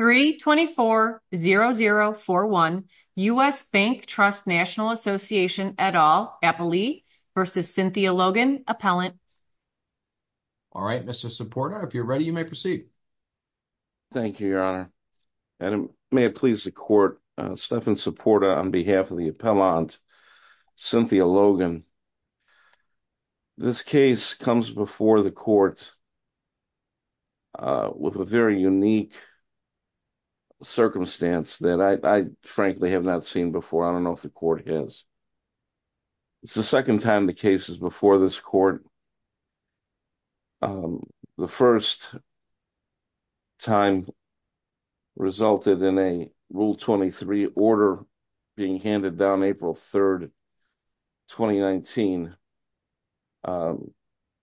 3-24-0041 U.S. Bank Trust National Association et al. Appellee v. Cynthia Logan, Appellant. All right, Mr. Supporta, if you're ready, you may proceed. Thank you, Your Honor, and may it please the Court, Stephan Supporta on behalf of the Appellant Cynthia Logan. This case comes before the Court with a very unique circumstance that I frankly have not seen before. I don't know if the Court has. It's the second time the case is before this Court. The first time resulted in a Rule 23 order being handed down April 3, 2019, and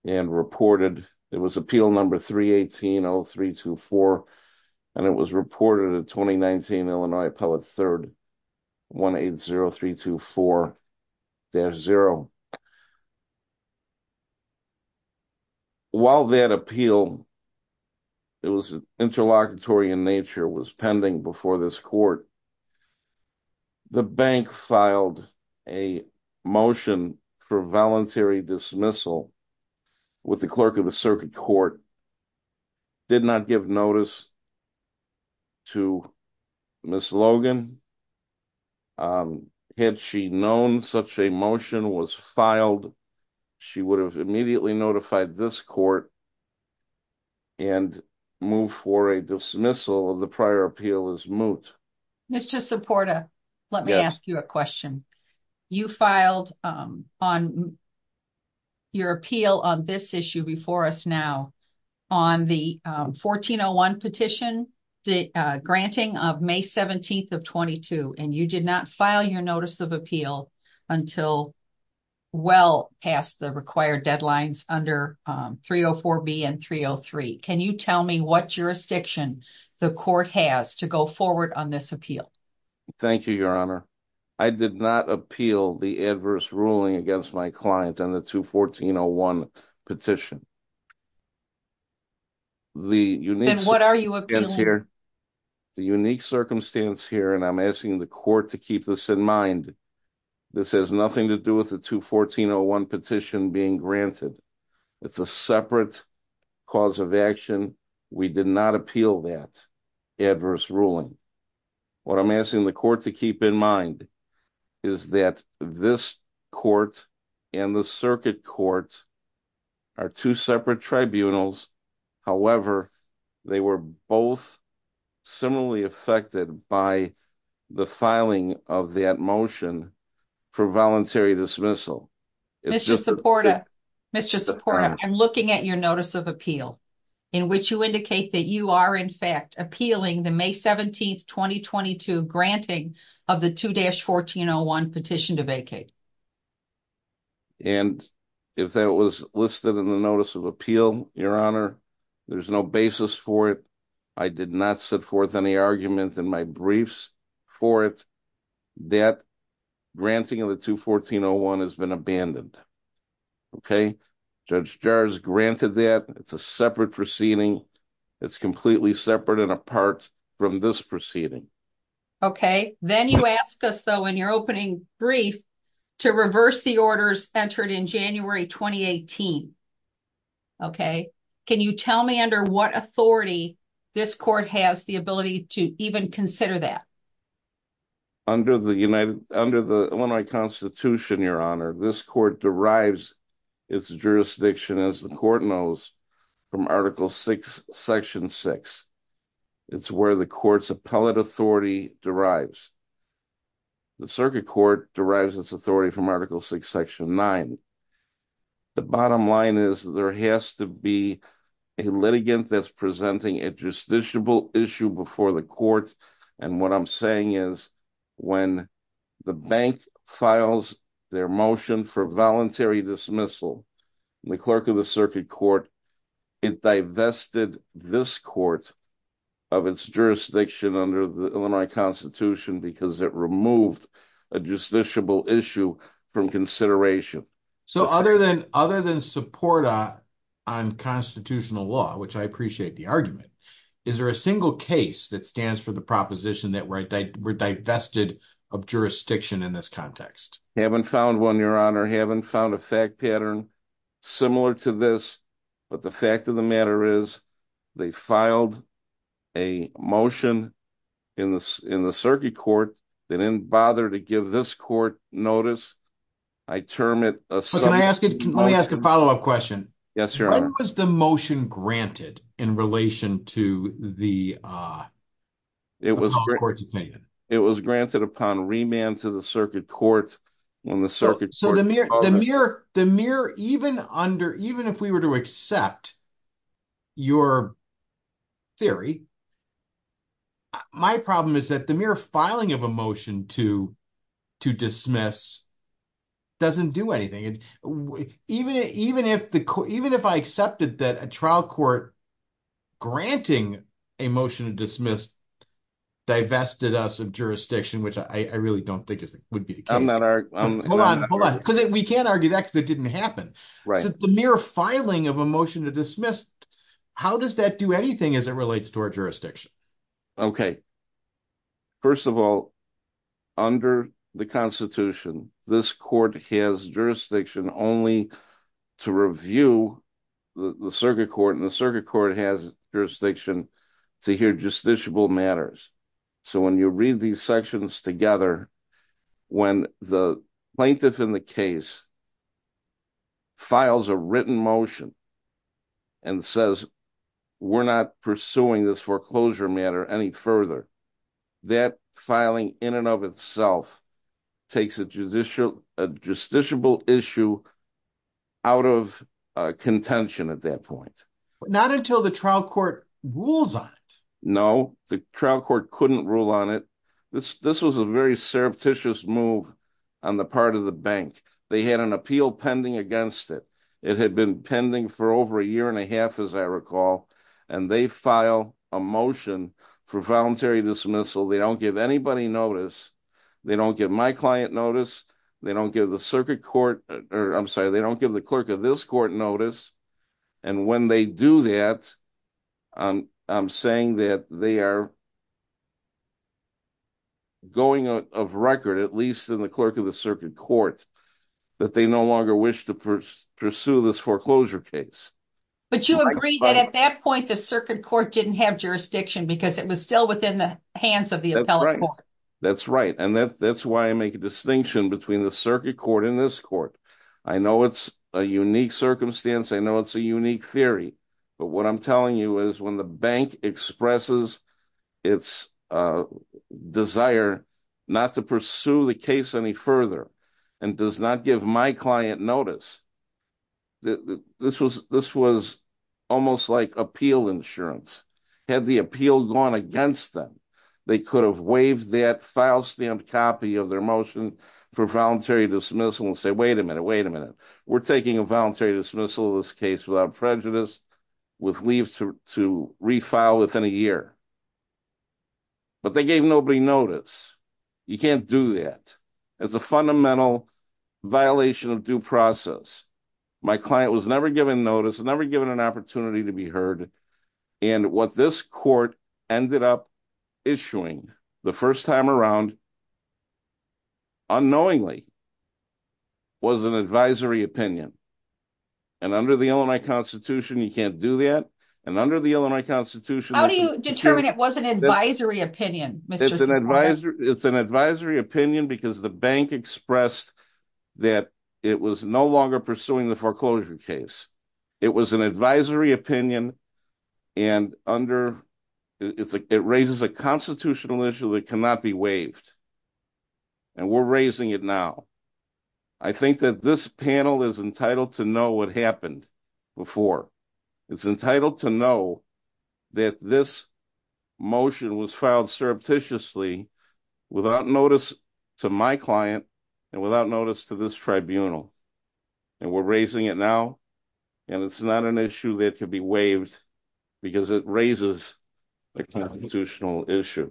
reported. It was Appeal No. 318-0324, and it was reported in 2019 Illinois Appellate 3-180324-0. While that appeal, it was interlocutory in nature, was pending before this Court, the Bank filed a motion for voluntary dismissal with the Clerk of the Circuit Court, did not give notice to Ms. Logan. Had she known such a motion was filed, she would have immediately notified this Court and move for a dismissal of the prior appeal as moot. Mr. Supporta, let me ask you a question. You filed on your appeal on this issue before us now on the 1401 petition, the granting of May 17th of 22, and you did not file your notice of appeal until well past the required deadlines under 304B and 303. Can you tell me what jurisdiction the Court has to go forward on this appeal? Thank you, Your Honor. I did not appeal the adverse ruling against my client on the 214-01 petition. The unique circumstance here, and I'm asking the Court to keep this in mind, this has nothing to do with the 214-01 petition being granted. It's a separate cause of action. We did not appeal that adverse ruling. What I'm asking the Court to keep in mind is that this Court and the Circuit Court are two separate tribunals. However, they were both similarly affected by the filing of that motion for voluntary dismissal. Mr. Supporta, I'm looking at your notice of appeal in which you indicate that you are, in fact, appealing the May 17th, 2022 granting of the 214-01 petition to vacate. Yes. If that was listed in the notice of appeal, Your Honor, there's no basis for it. I did not set forth any argument in my briefs for it that granting of the 214-01 has been abandoned. Judge Jars granted that. It's a separate proceeding. It's completely separate and apart from this proceeding. Okay. Then you ask us, though, in your opening brief, to reverse the orders entered in January 2018. Okay. Can you tell me under what authority this Court has the ability to even consider that? Under the Illinois Constitution, Your Honor, this Court derives its jurisdiction, as the Court knows, from Article VI, Section 6. It's where the Court's appellate authority derives. The Circuit Court derives its authority from Article VI, Section 9. The bottom line is there has to be a litigant that's presenting a justiciable issue before the Court. What I'm saying is when the bank files their motion for voluntary dismissal, the Clerk of the Circuit Court divested this Court of its jurisdiction under the Illinois Constitution because it removed a justiciable issue from consideration. Other than support on constitutional law, which I appreciate the argument, is there a single case that stands for the proposition that we're divested of jurisdiction in this context? Haven't found one, Your Honor. Haven't found a fact pattern similar to this. But the fact of the matter is they filed a motion in the Circuit Court. They didn't bother to give this Court notice. Let me ask a follow-up question. Yes, Your Honor. When was the motion granted in relation to the appellate Court's opinion? It was granted upon remand to the Circuit Court. Even if we were to accept your theory, my problem is that the mere filing of a motion to dismiss doesn't do anything. Even if I accepted that a trial court granting a motion to dismiss divested us of jurisdiction, which I really don't think would be the case. Hold on. We can't argue that because it didn't happen. The mere filing of a motion to dismiss, how does that do anything as relates to our jurisdiction? Okay. First of all, under the Constitution, this Court has jurisdiction only to review the Circuit Court, and the Circuit Court has jurisdiction to hear justiciable matters. So when you read these sections together, when the plaintiff in the case files a written motion and says, we're not pursuing this foreclosure matter any further, that filing in and of itself takes a justiciable issue out of contention at that point. Not until the trial court rules on it. No, the trial court couldn't rule on it. This was a very surreptitious move on the part of the bank. They had an appeal pending against it. It had been pending for over a year and a half, as I recall, and they file a motion for voluntary dismissal. They don't give anybody notice. They don't give my client notice. They don't give the Circuit Court, or I'm sorry, they don't give the clerk of this court notice. And when they do that, I'm saying that they are going out of record, at least in the clerk of the Circuit Court, that they no longer wish to pursue this foreclosure case. But you agree that at that point, the Circuit Court didn't have jurisdiction because it was still within the hands of the appellate court. That's right. And that's why I make a distinction between the Circuit Court and this court. I know it's a unique circumstance. I know it's a unique theory. But what I'm telling you is when the bank expresses its desire not to pursue the case any further and does not give my client notice, this was almost like appeal insurance. Had the appeal gone against them, they could have waived that file stamped copy of their motion for voluntary dismissal and say, wait a minute, wait a minute. We're taking a voluntary dismissal of this case without prejudice with leaves to refile within a year. But they gave nobody notice. You can't do that. It's a fundamental violation of due process. My client was never given notice, never given an opportunity to be heard. And what this court ended up issuing the first time around, unknowingly, was an advisory opinion. And under the Illinois Constitution, you can't do that. And under the Illinois Constitution... How do you determine it wasn't an advisory opinion? It's an advisory opinion because the bank expressed that it was no longer pursuing the foreclosure case. It was an advisory opinion. And it raises a constitutional issue that cannot be waived. And we're raising it now. I think that this panel is entitled to know what happened before. It's entitled to know that this motion was filed surreptitiously without notice to my client and without notice to this tribunal. And we're raising it now. And it's not an issue that could be waived because it raises a constitutional issue.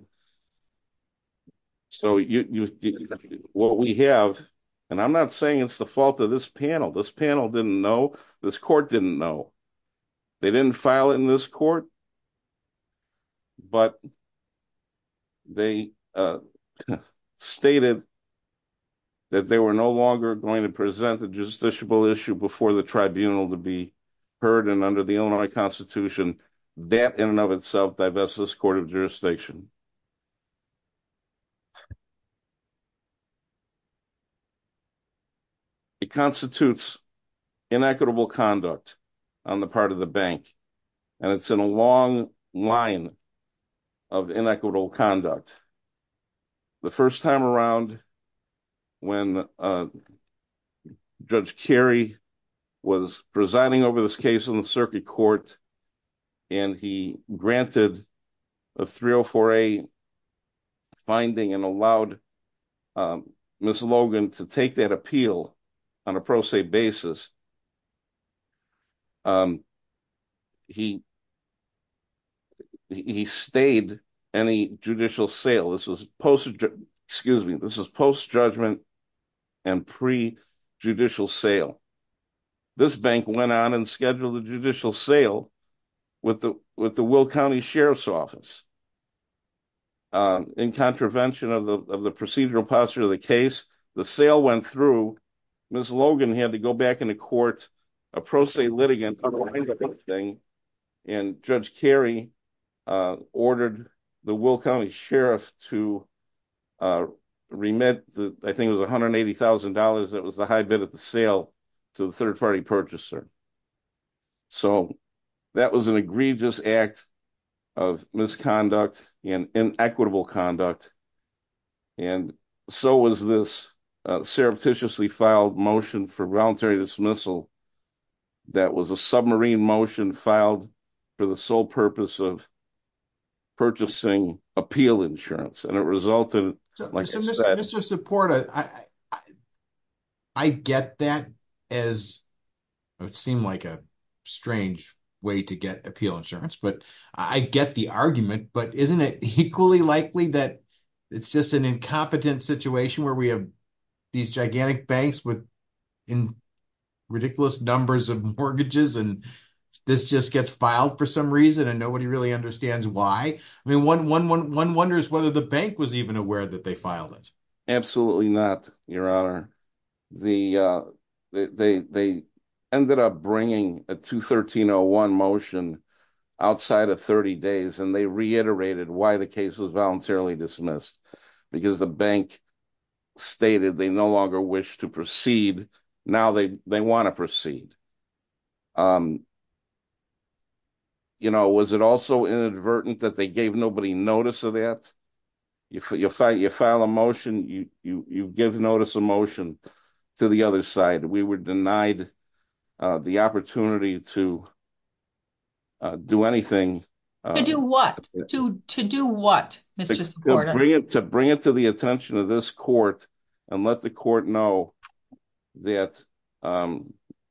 So, what we have... And I'm not saying it's the fault of this panel. This panel didn't know. This court didn't know. They didn't file in this court. But they stated that they were no longer going to present the justiciable issue before the tribunal to be heard. And under the Illinois Constitution, that in and of itself divests this court of jurisdiction. It constitutes inequitable conduct on the part of the bank. And it's in a long line of inequitable conduct. The first time around, when Judge Carey was presiding over this case in the circuit court, and he granted a 304A finding and allowed Ms. Logan to take that appeal on a pro se basis. He stayed any judicial sale. This is post judgment and pre judicial sale. This bank went on and scheduled a judicial sale with the Will County Sheriff's Office. In contravention of the procedural posture of the case, the sale went through. Ms. Logan had to go back into court, a pro se litigant thing. And Judge Carey ordered the Will County Sheriff to remit, I think it was $180,000. That was the high bid at the sale to the third party purchaser. So that was an egregious act of misconduct and inequitable conduct. And so was this surreptitiously filed motion for voluntary dismissal. That was a submarine motion filed for the sole purpose of purchasing appeal insurance. And it resulted... So Mr. Support, I get that as, it would seem like a strange way to get appeal insurance, but I get the argument. But isn't it equally likely that it's just an incompetent situation where we these gigantic banks with ridiculous numbers of mortgages, and this just gets filed for some reason and nobody really understands why. I mean, one wonders whether the bank was even aware that they filed it. Absolutely not, Your Honor. They ended up bringing a 213-01 motion outside of 30 days, and they reiterated why the case was voluntarily dismissed. Because the bank stated they no longer wish to proceed. Now they want to proceed. Was it also inadvertent that they gave nobody notice of that? You file a motion, you give notice of motion to the other side. We were denied the opportunity to do anything. To do what? To do what, Mr. Support? To bring it to the attention of this court and let the court know that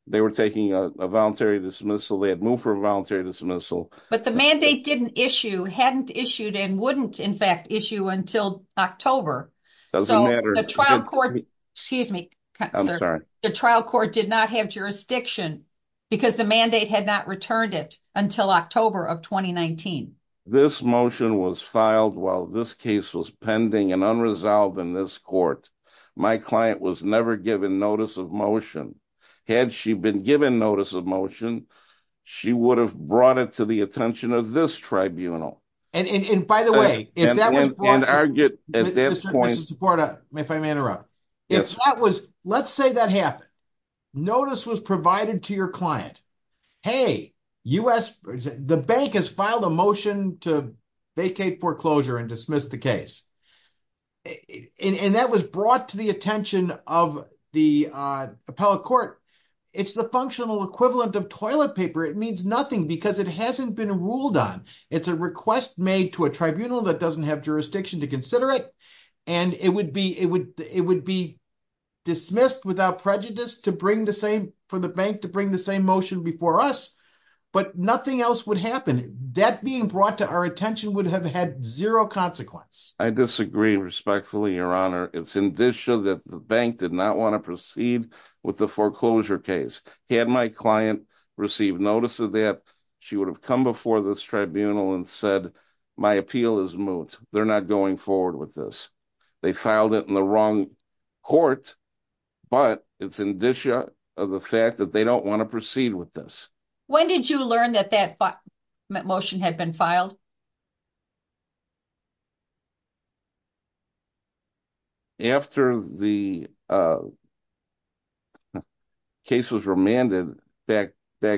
they were taking a voluntary dismissal. They had moved for a voluntary dismissal. But the mandate didn't issue, hadn't issued, and wouldn't, in fact, issue until October. So the trial court... Excuse me, sir. The trial court did not have jurisdiction because the mandate had not returned it until October of 2019. This motion was filed while this case was pending and unresolved in this court. My client was never given notice of motion. Had she been given notice of motion, she would have brought it to the attention of this tribunal. And by the way, if that was brought... And argued at that point... Mr. Support, if I may interrupt. If that was... Let's say that happened. Notice was provided to your client. Hey, the bank has filed a motion to vacate foreclosure and dismiss the case. And that was brought to the attention of the appellate court. It's the functional equivalent of toilet paper. It means nothing because it hasn't been ruled on. It's a request made to a tribunal that doesn't have jurisdiction to consider it. And it would be dismissed without prejudice for the bank to bring the same motion before us, but nothing else would happen. That being brought to our attention would have had zero consequence. I disagree respectfully, your honor. It's indicia that the bank did not want to proceed with the foreclosure case. Had my client received notice of that, she would have come before this tribunal and said, my appeal is moot. They're not going forward with this. They filed it in the wrong court, but it's indicia of the fact that they don't want to proceed with this. When did you learn that that motion had been filed? After the case was remanded back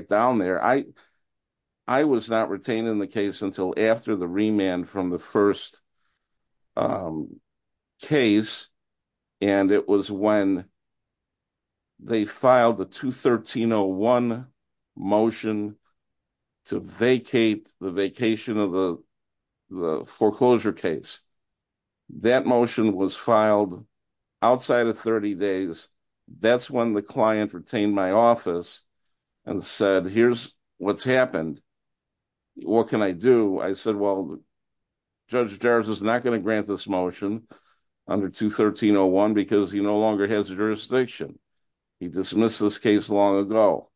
down there. I was not retained in the case until after the remand from the first case. And it was when they filed a 213-01 motion to vacate the vacation of the foreclosure case. That motion was filed outside of 30 days. That's when the client retained my office and said, here's what's happened. What can I do? I said, well, Judge Jarvis is not going to grant this motion under 213-01 because he no longer has jurisdiction. He dismissed this case long ago.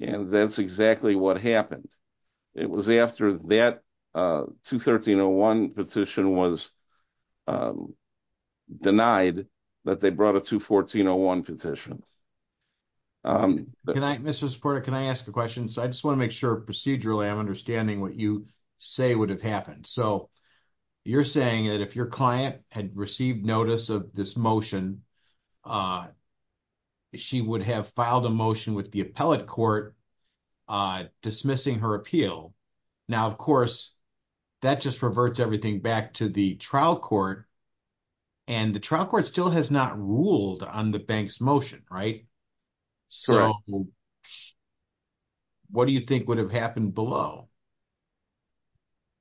And that's exactly what happened. It was after that 213-01 petition was denied that they brought a 214-01 petition. Mr. Supporta, can I ask a question? I just want to make sure procedurally I'm understanding what you say would have happened. So you're saying that if your client had received notice of this motion, she would have filed a motion with the appellate court dismissing her appeal. Now, of course, that just reverts everything back to the trial court. And the trial court still has not ruled on the bank's motion, right? So what do you think would have happened below?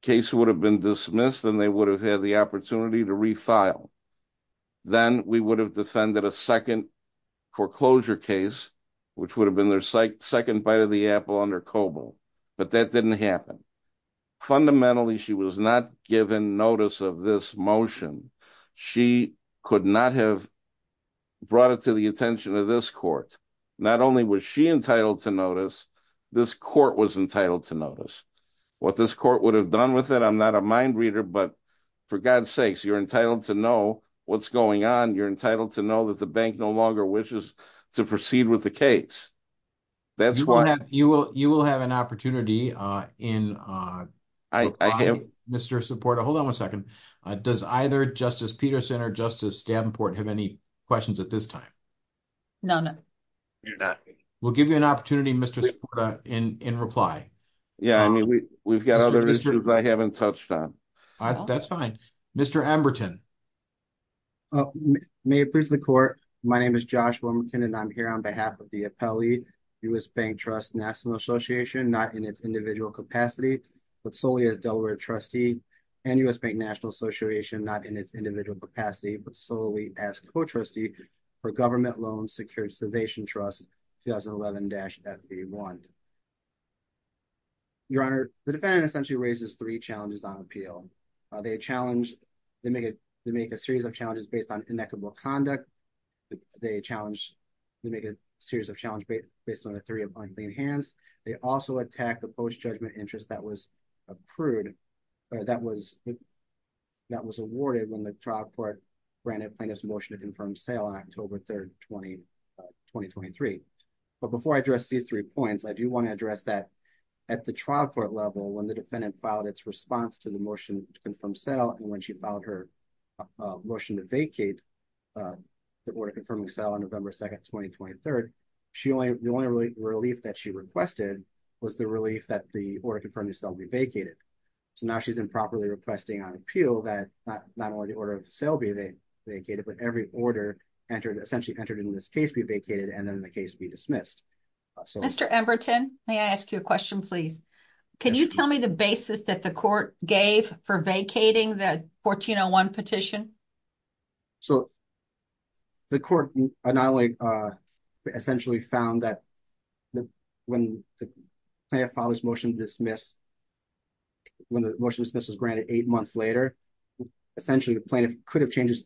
Case would have been dismissed and they would have had the opportunity to refile. Then we would have defended a second foreclosure case, which would have been their second bite of the apple under COBOL. But that didn't happen. Fundamentally, she was not given notice of this motion. She could not have brought it to the attention of this court. Not only was she entitled to notice, this court was entitled to notice. What this court would have done with it, I'm not a mind reader, but for God's sakes, you're entitled to know what's going on. You're entitled to know that the bank no longer wishes to proceed with the case. That's why. You will have an opportunity in Mr. Support. Hold on one second. Does either Justice Peterson or Justice Stabenport have any questions at this time? None. We'll give you an opportunity, Mr. Support, in reply. Yeah, I mean, we've got other issues I haven't touched on. That's fine. Mr. Amberton. May it please the court. My name is Josh Wilmington and I'm here on behalf of the appellee U.S. Bank Trust National Association, not in its individual capacity, but solely as Delaware trustee and U.S. Bank National Association, not in its individual capacity, but solely as co-trustee for Government Loan Securitization Trust 2011-FV1. Your Honor, the defendant essentially raises three challenges on appeal. They challenge, they make a series of challenges based on inequitable conduct. They challenge, they make a series of challenges based on a theory of unclean hands. They also attack the post-judgment interest that was approved or that was awarded when the trial court granted plaintiff's motion to confirm sale on October 3rd, 2023. But before I address these three points, I do want to address that at the trial court level, when the defendant filed its response to the motion to confirm sale and when she filed her motion to vacate the order confirming sale on November 2nd, 2023, the only relief that she requested was the relief that the order confirming sale be vacated. So now she's improperly requesting on appeal that not only the order of sale be vacated, but every order essentially entered in this case be vacated and then the case be dismissed. Mr. Emberton, may I ask you a question, please? Can you tell me the basis that the court essentially found that when the plaintiff filed his motion to dismiss, when the motion to dismiss was granted eight months later, essentially the plaintiff could have changed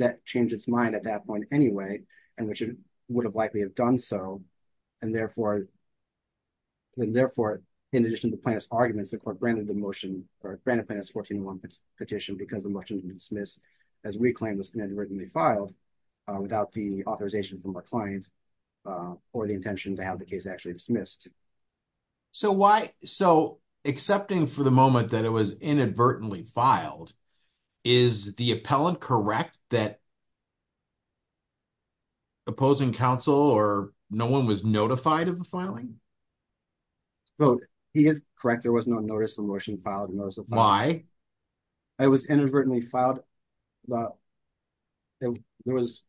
that, changed its mind at that point anyway, and which it would have likely have done so. And therefore, in addition to plaintiff's arguments, the court granted the motion or granted plaintiff's 14-1 petition because the motion to dismiss, as we claim, was inadvertently filed without the authorization from our client or the intention to have the case actually dismissed. So accepting for the moment that it was inadvertently filed, is the appellant correct that opposing counsel or no one was notified of the filing? Well, he is correct. There was no notice of motion filed. Why? It was inadvertently filed but there was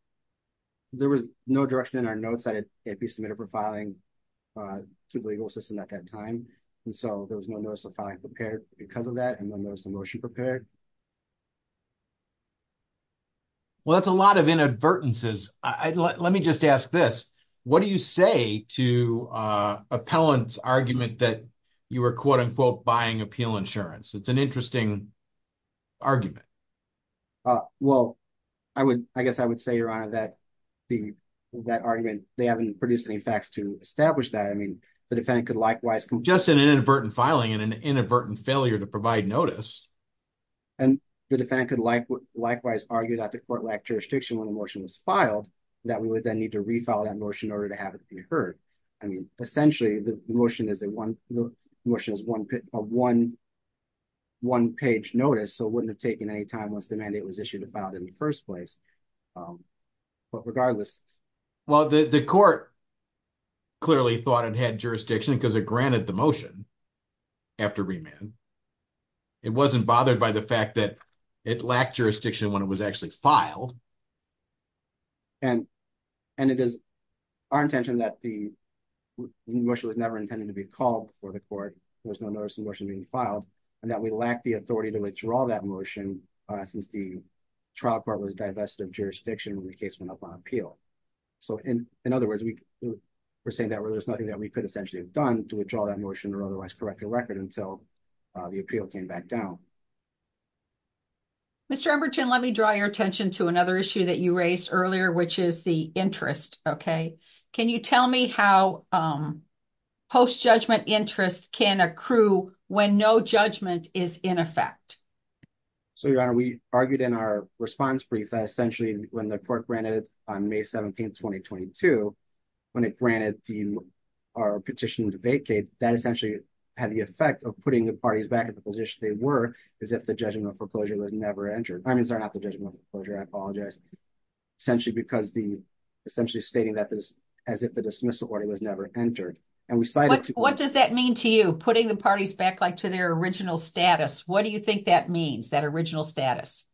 no direction in our notes that it be submitted for filing to the legal system at that time. And so there was no notice of filing prepared because of that and no notice of motion prepared. Well, that's a lot of inadvertences. Let me just ask this, what do you say to appellant's argument that you were quote-unquote buying appeal insurance? It's interesting argument. Well, I guess I would say, Your Honor, that argument, they haven't produced any facts to establish that. I mean, the defendant could likewise... Just an inadvertent filing and an inadvertent failure to provide notice. And the defendant could likewise argue that the court lacked jurisdiction when the motion was filed, that we would then need to refile that motion one-page notice so it wouldn't have taken any time once the mandate was issued and filed in the first place. But regardless... Well, the court clearly thought it had jurisdiction because it granted the motion after remand. It wasn't bothered by the fact that it lacked jurisdiction when it was actually filed. And it is our intention that the motion was never intended to be called before the court. There was no notice of motion being filed and that we lacked the authority to withdraw that motion since the trial court was divested of jurisdiction when the case went up on appeal. So in other words, we're saying that there's nothing that we could essentially have done to withdraw that motion or otherwise correct the record until the appeal came back down. Mr. Emberton, let me draw your attention to another issue that you raised earlier, which is the interest, okay? Can you tell me how post-judgment interest can accrue when no judgment is in effect? So, Your Honor, we argued in our response brief that essentially when the court granted it on May 17, 2022, when it granted our petition to vacate, that essentially had the effect of putting the parties back in the position they were as if the judgment of foreclosure was never entered. I mean, it's not the judgment of foreclosure, I apologize. Essentially because essentially stating that as if the dismissal order was never entered. What does that mean to you, putting the parties back like to their original status? What do you think that means, that original status?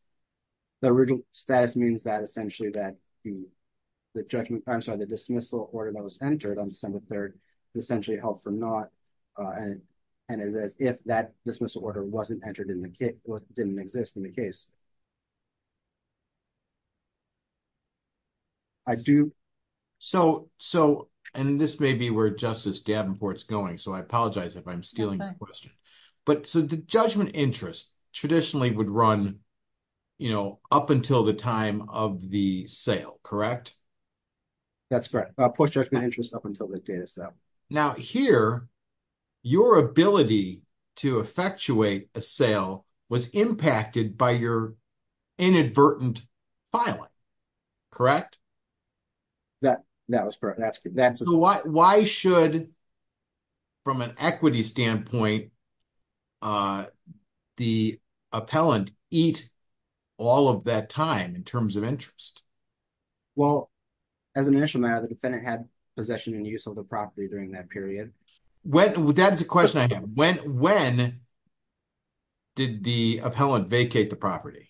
The original status means that essentially that the judgment, I'm sorry, the dismissal order that was entered on December 3rd essentially held for naught and it is if that dismissal order wasn't entered in the case or didn't exist in the case. Okay. I do. So, and this may be where Justice Davenport's going, so I apologize if I'm stealing the question, but so the judgment interest traditionally would run up until the time of the sale, correct? That's correct. Post-judgment interest up until the date of sale. Now here, your ability to effectuate a sale was impacted by your inadvertent filing, correct? That was correct. Why should, from an equity standpoint, the appellant eat all of that time in terms of interest? Well, as an initial matter, the defendant had possession and use of the property during that period. That is a question I have. When did the appellant vacate the property?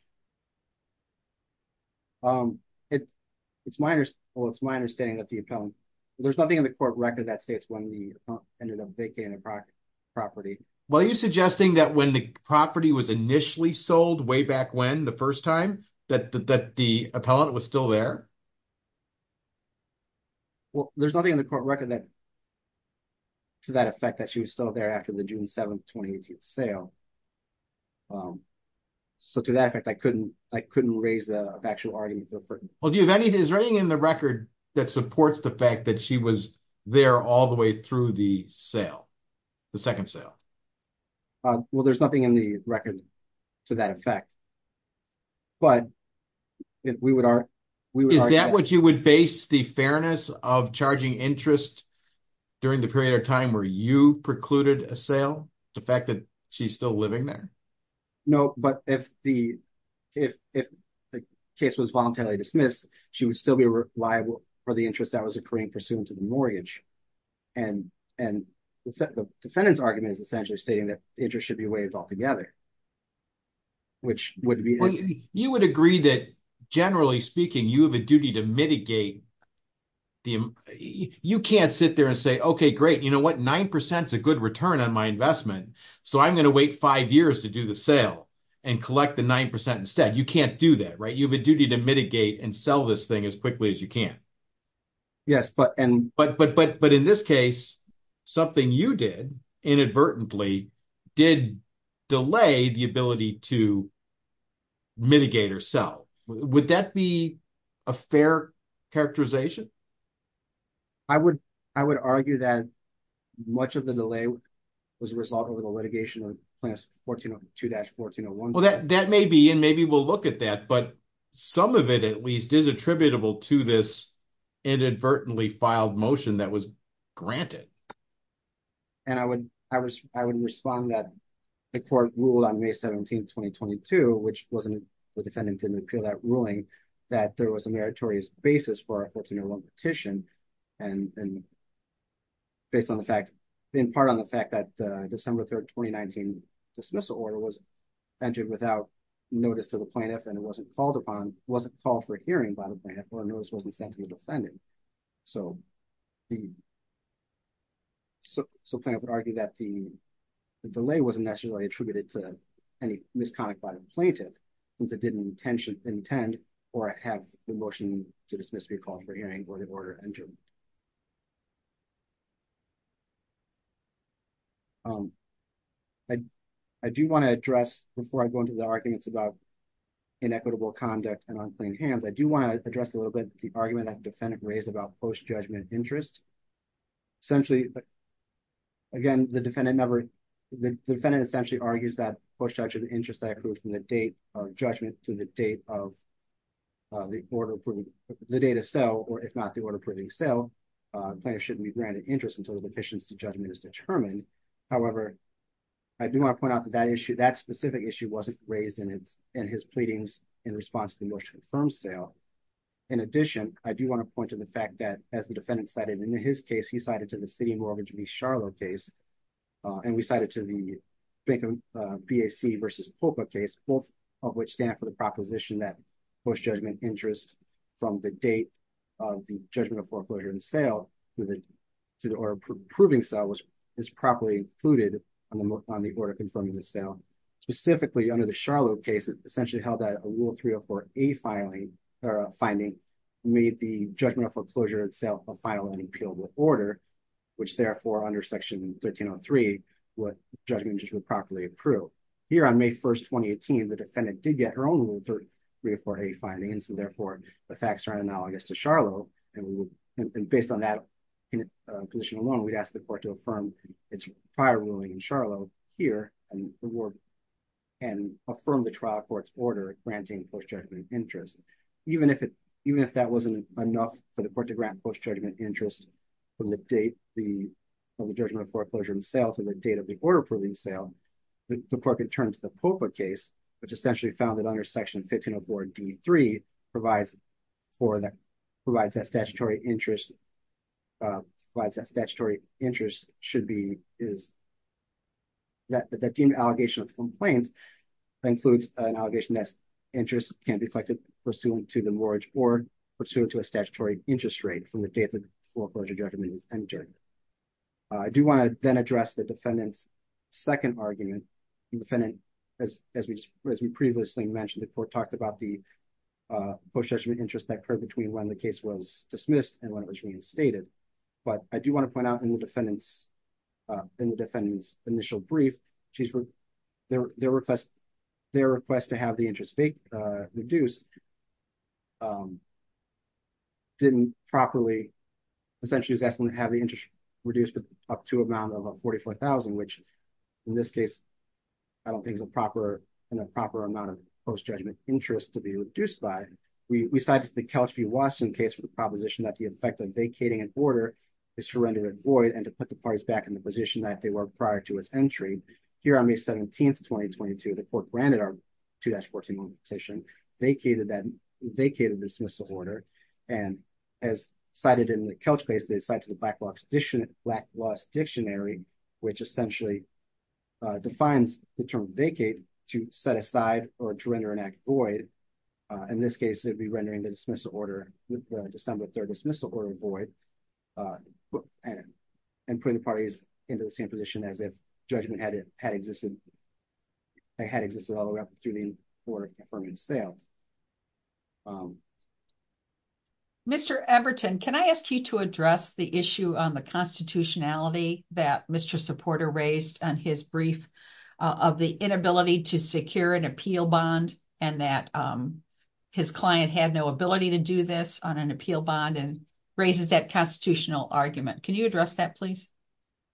It's my understanding that the appellant, there's nothing in the court record that states when the appellant ended up vacating the property. Well, are you suggesting that when the property was initially sold way back when the first time that the appellant was still there? Well, there's nothing in the court record that, to that effect, that she was still there after the June 7, 2018 sale. So to that effect, I couldn't raise the factual argument. Well, is there anything in the record that supports the fact that she was there all the way through the sale, the second sale? Well, there's nothing in the record to that effect. Is that what you would base the fairness of charging interest during the period of time where you precluded a sale, the fact that she's still living there? No, but if the case was voluntarily dismissed, she would still be liable for the interest that was occurring pursuant to the mortgage. And the defendant's argument is essentially stating that interest should be waived altogether, which would be the case. Well, you would agree that, generally speaking, you have a duty to mitigate. You can't sit there and say, OK, great, you know what? 9% is a good return on my investment, so I'm going to wait five years to do the sale and collect the 9% instead. You can't do that, right? You have a duty to mitigate and sell this thing as quickly as you can. Yes, but in this case, something you did inadvertently did delay the ability to mitigate or sell. Would that be a fair characterization? I would argue that much of the delay was a result of the litigation of 1402-1401. Well, that may be, and maybe we'll look at that, but some of it, at least, is attributable to this inadvertently filed motion that was granted. And I would respond that the court ruled on May 17, 2022, which wasn't, the defendant didn't appeal that ruling, that there was a meritorious basis for our 1401 petition and based on the fact, in part on the fact that the December 3, 2019 dismissal order was entered without notice to the plaintiff and it wasn't called upon, wasn't called for hearing by the plaintiff or notice wasn't sent to the defendant. So the plaintiff would argue that the delay wasn't necessarily attributed to any misconduct by the plaintiff, since it didn't intend or have the motion to dismiss be called for hearing or the order entered. I do want to address, before I go into the arguments about inequitable conduct and plain hands, I do want to address a little bit the argument that the defendant raised about post-judgment interest. Essentially, again, the defendant never, the defendant essentially argues that post-judgment interest that accrues from the date of judgment to the date of the order, the date of sale, or if not the order proving sale, plaintiff shouldn't be granted interest until the deficiency judgment is determined. However, I do want to point out that issue, that specific issue wasn't raised in his pleadings in response to the motion to confirm sale. In addition, I do want to point to the fact that as the defendant cited in his case, he cited to the City Mortgage v. Charlotte case, and we cited to the BAC v. FOCA case, both of which stand for the proposition that post-judgment interest from the date of the judgment of foreclosure and sale to the order proving sale is properly included on the order confirming the sale. Specifically, under the Charlotte case, essentially held that a Rule 304A finding made the judgment of foreclosure and sale a final and appealable order, which therefore under Section 1303, what judgment interest would properly accrue. Here on May 1st, 2018, the defendant did get her own Rule 304A findings, and therefore, the facts are analogous to Charlotte, and based on that position alone, we'd ask the court to affirm its prior ruling in Charlotte here and affirm the trial court's order granting post-judgment interest. Even if that wasn't enough for the court to grant post-judgment interest from the date of the judgment of foreclosure and sale to the date of the order proving sale, the court could turn to the FOCA case, which essentially found that under Section 1504 D.3 provides that statutory interest provides that statutory interest should be is that the deemed allegation of the complaint includes an allegation that interest can be collected pursuant to the mortgage or pursuant to a statutory interest rate from the date the foreclosure judgment is entered. I do want to then address the defendant's second argument. The defendant, as we previously mentioned, the court talked about the post-judgment interest that occurred between when the case was dismissed and when it was reinstated, but I do want to point out in the defendant's initial brief, their request to have the interest reduced didn't properly, essentially, was asking to have the interest reduced up to amount of $44,000, which in this case, I don't think is a proper amount of post-judgment interest to be reduced by. We cited the Kelch v. Watson case for the proposition that the effect of vacating an order is to render it void and to put the parties back in the position that they were prior to its entry. Here on May 17, 2022, the court granted our 2-14 moment petition, vacated that dismissal order, and as cited in the Kelch case, they cited the Black Laws Dictionary, which essentially defines the term vacate to set aside or to render an act void. In this case, it would be rendering the dismissal order with the December 3rd dismissal order void and putting the parties into the same position as if judgment had existed all the way up through the order of affirmative sale. Mr. Eberton, can I ask you to address the issue on the constitutionality that Mr. Porter raised on his brief of the inability to secure an appeal bond and that his client had no ability to do this on an appeal bond and raises that constitutional argument. Can you address that, please?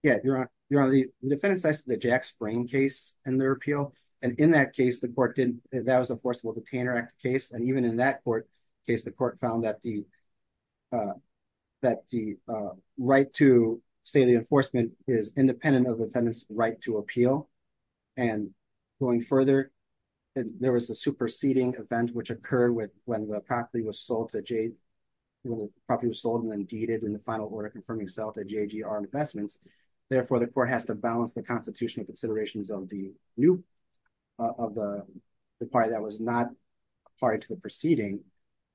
Yeah, you're on the defendant's side of the Jack Spring case and their appeal. And in that case, the court didn't, that was a forcible detainer act case. And even in that case, the court found that the right to say the enforcement is independent of the defendant's right to appeal. And going further, there was a superseding event which occurred when the property was sold and then deeded in the final order confirming sale to JGR Investments. Therefore, the court has to balance the constitutional considerations of the new, of the party that was not party to the proceeding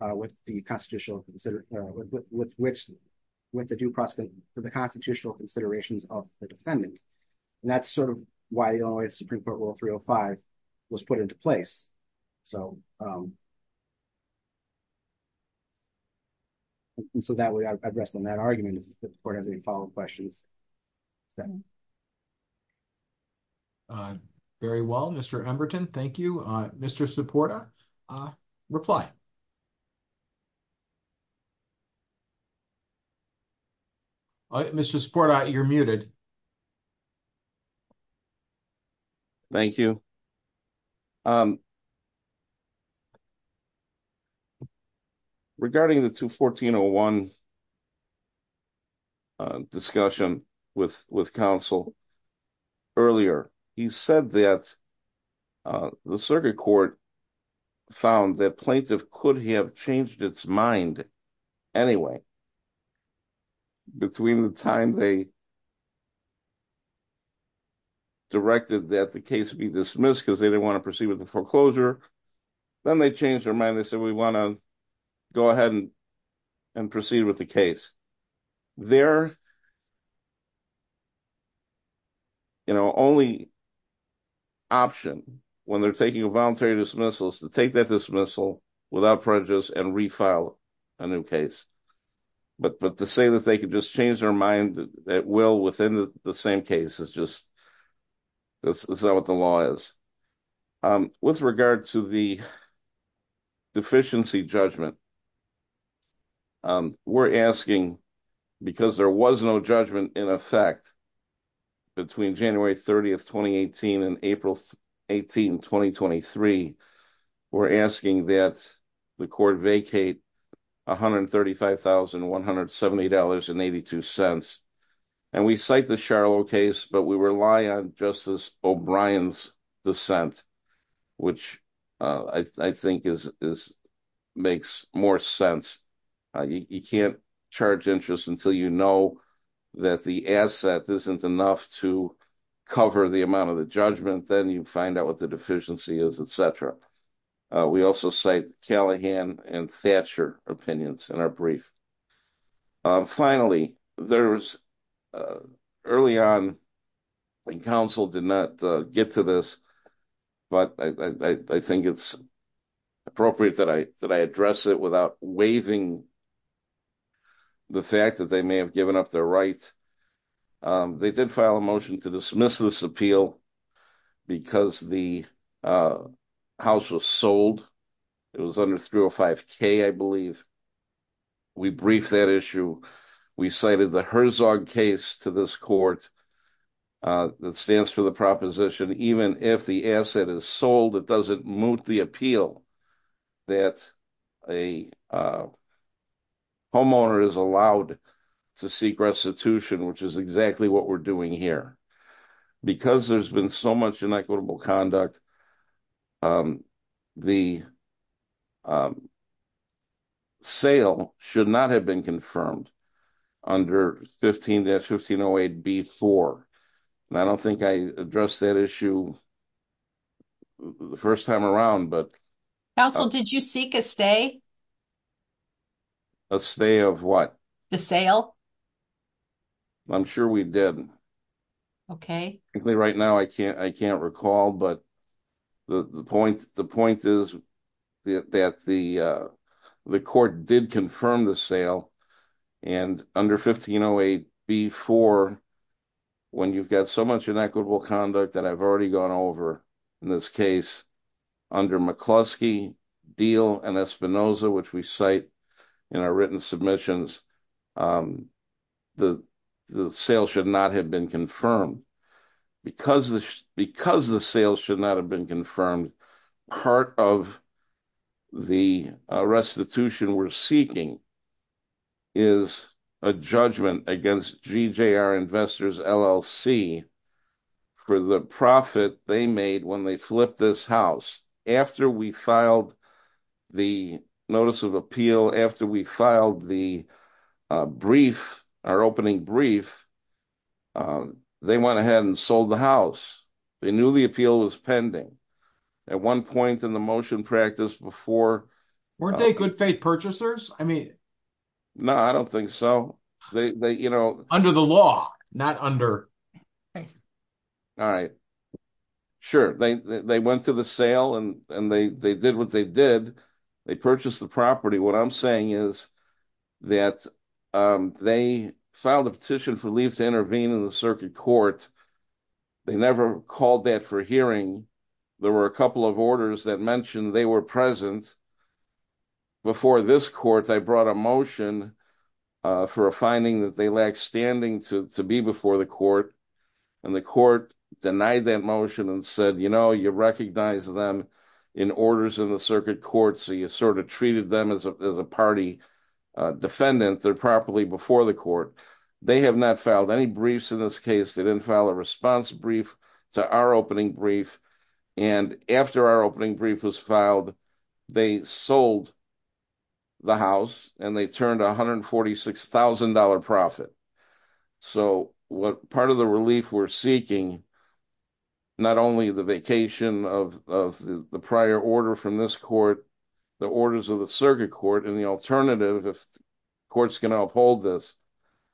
with the constitutional, with which, with the due precedent for the constitutional considerations of the defendant. And that's sort of why the only Supreme Court rule 305 was put into place. And so that way I rest on that argument if the court has any follow-up questions. Very well, Mr. Emberton, thank you. Mr. Supporta, reply. Mr. Supporta, you're muted. Thank you. Regarding the 214-01 discussion with counsel earlier, he said that the circuit court found that plaintiff could have changed its mind anyway between the time they had directed that the case be dismissed because they didn't want to proceed with the foreclosure, then they changed their mind. They said, we want to go ahead and proceed with the case. Their you know, only option when they're taking a voluntary dismissal is to take that dismissal without prejudice and refile a new case. But to say that they could just change their mind, that will within the same case, is just, that's not what the law is. With regard to the deficiency judgment, we're asking, because there was no judgment in effect between January 30, 2018 and April 18, 2023, we're asking that the court vacate $135,170.82 and we cite the Sharlow case, but we rely on Justice O'Brien's dissent, which I think makes more sense. You can't charge interest until you know that the asset isn't enough to cover the amount of the judgment, then you find out what the deficiency is, etc. We also cite Callahan and Thatcher opinions in our brief. Finally, there was early on when counsel did not get to this, but I think it's appropriate that I address it without waiving the fact that they may have given up their rights. They did file a motion to dismiss this appeal because the house was sold. It was under 305k, I believe. We briefed that issue. We cited the Herzog case to this court that stands for the proposition, even if the asset is sold, it doesn't moot the appeal that a homeowner is allowed to seek restitution, which is exactly what we're doing here. Because there's been so much inequitable conduct, the sale should not have been confirmed under 15-1508b-4. I don't think I addressed that issue the first time around. Counsel, did you seek a stay? A stay of what? The sale. I'm sure we did. Okay. Right now, I can't recall, but the point is that the court did confirm the sale, and under 1508b-4, when you've got so much inequitable conduct that I've already gone over, in this case, under McCluskey, Deal, and Espinoza, which we cite in our written submissions, the sale should not have been confirmed. Because the sale should not have been confirmed, part of the restitution we're seeking is a judgment against GJR Investors LLC for the profit they made when they flipped this house. After we filed the notice of appeal, after we filed our opening brief, they went ahead and sold the house. They knew the appeal was pending. At one point in the motion practice before... Weren't they good faith purchasers? No, I don't think so. Under the law, not under... All right. Sure. They went to the sale, and they did what they did. They purchased the property. What I'm saying is that they filed a petition for leave to intervene in the circuit court. They never called that for hearing. There were a couple of orders that mentioned they were present. Before this court, I brought a motion for a finding that they lacked standing to be before the court, and the court denied that motion and said, you know, you recognize them in orders in circuit court, so you sort of treated them as a party defendant. They're properly before the court. They have not filed any briefs in this case. They didn't file a response brief to our opening brief. And after our opening brief was filed, they sold the house, and they turned a $146,000 profit. So part of the relief we're seeking, not only the vacation of the prior order from this court, the orders of the circuit court, and the alternative, if courts can uphold this,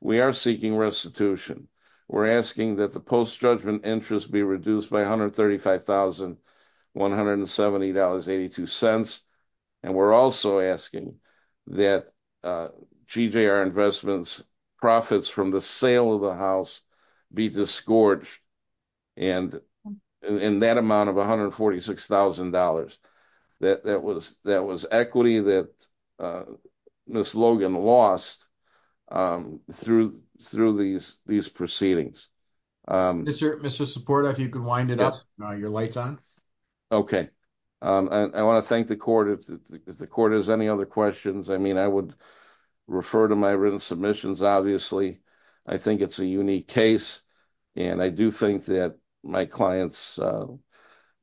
we are seeking restitution. We're asking that the post-judgment interest be reduced by $135,170.82. And we're also asking that GJR Investments' profits from the sale of the house be disgorged in that amount of $146,000. That was equity that Ms. Logan lost through these proceedings. Mr. Support, if you could wind it up. Your light's on. Okay. I want to thank the court. If the court has any other questions, I mean, I would think that my client's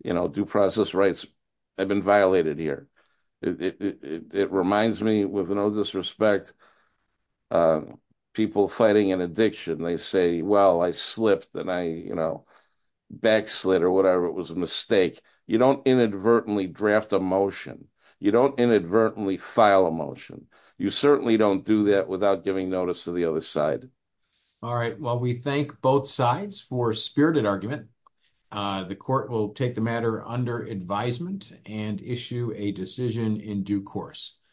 due process rights have been violated here. It reminds me, with no disrespect, people fighting an addiction, they say, well, I slipped and I backslid or whatever. It was a mistake. You don't inadvertently draft a motion. You don't inadvertently file a motion. You certainly don't do that without giving notice to the other side. All right. Well, we thank both sides for spirited argument. The court will take the matter under advisement and issue a decision in due course.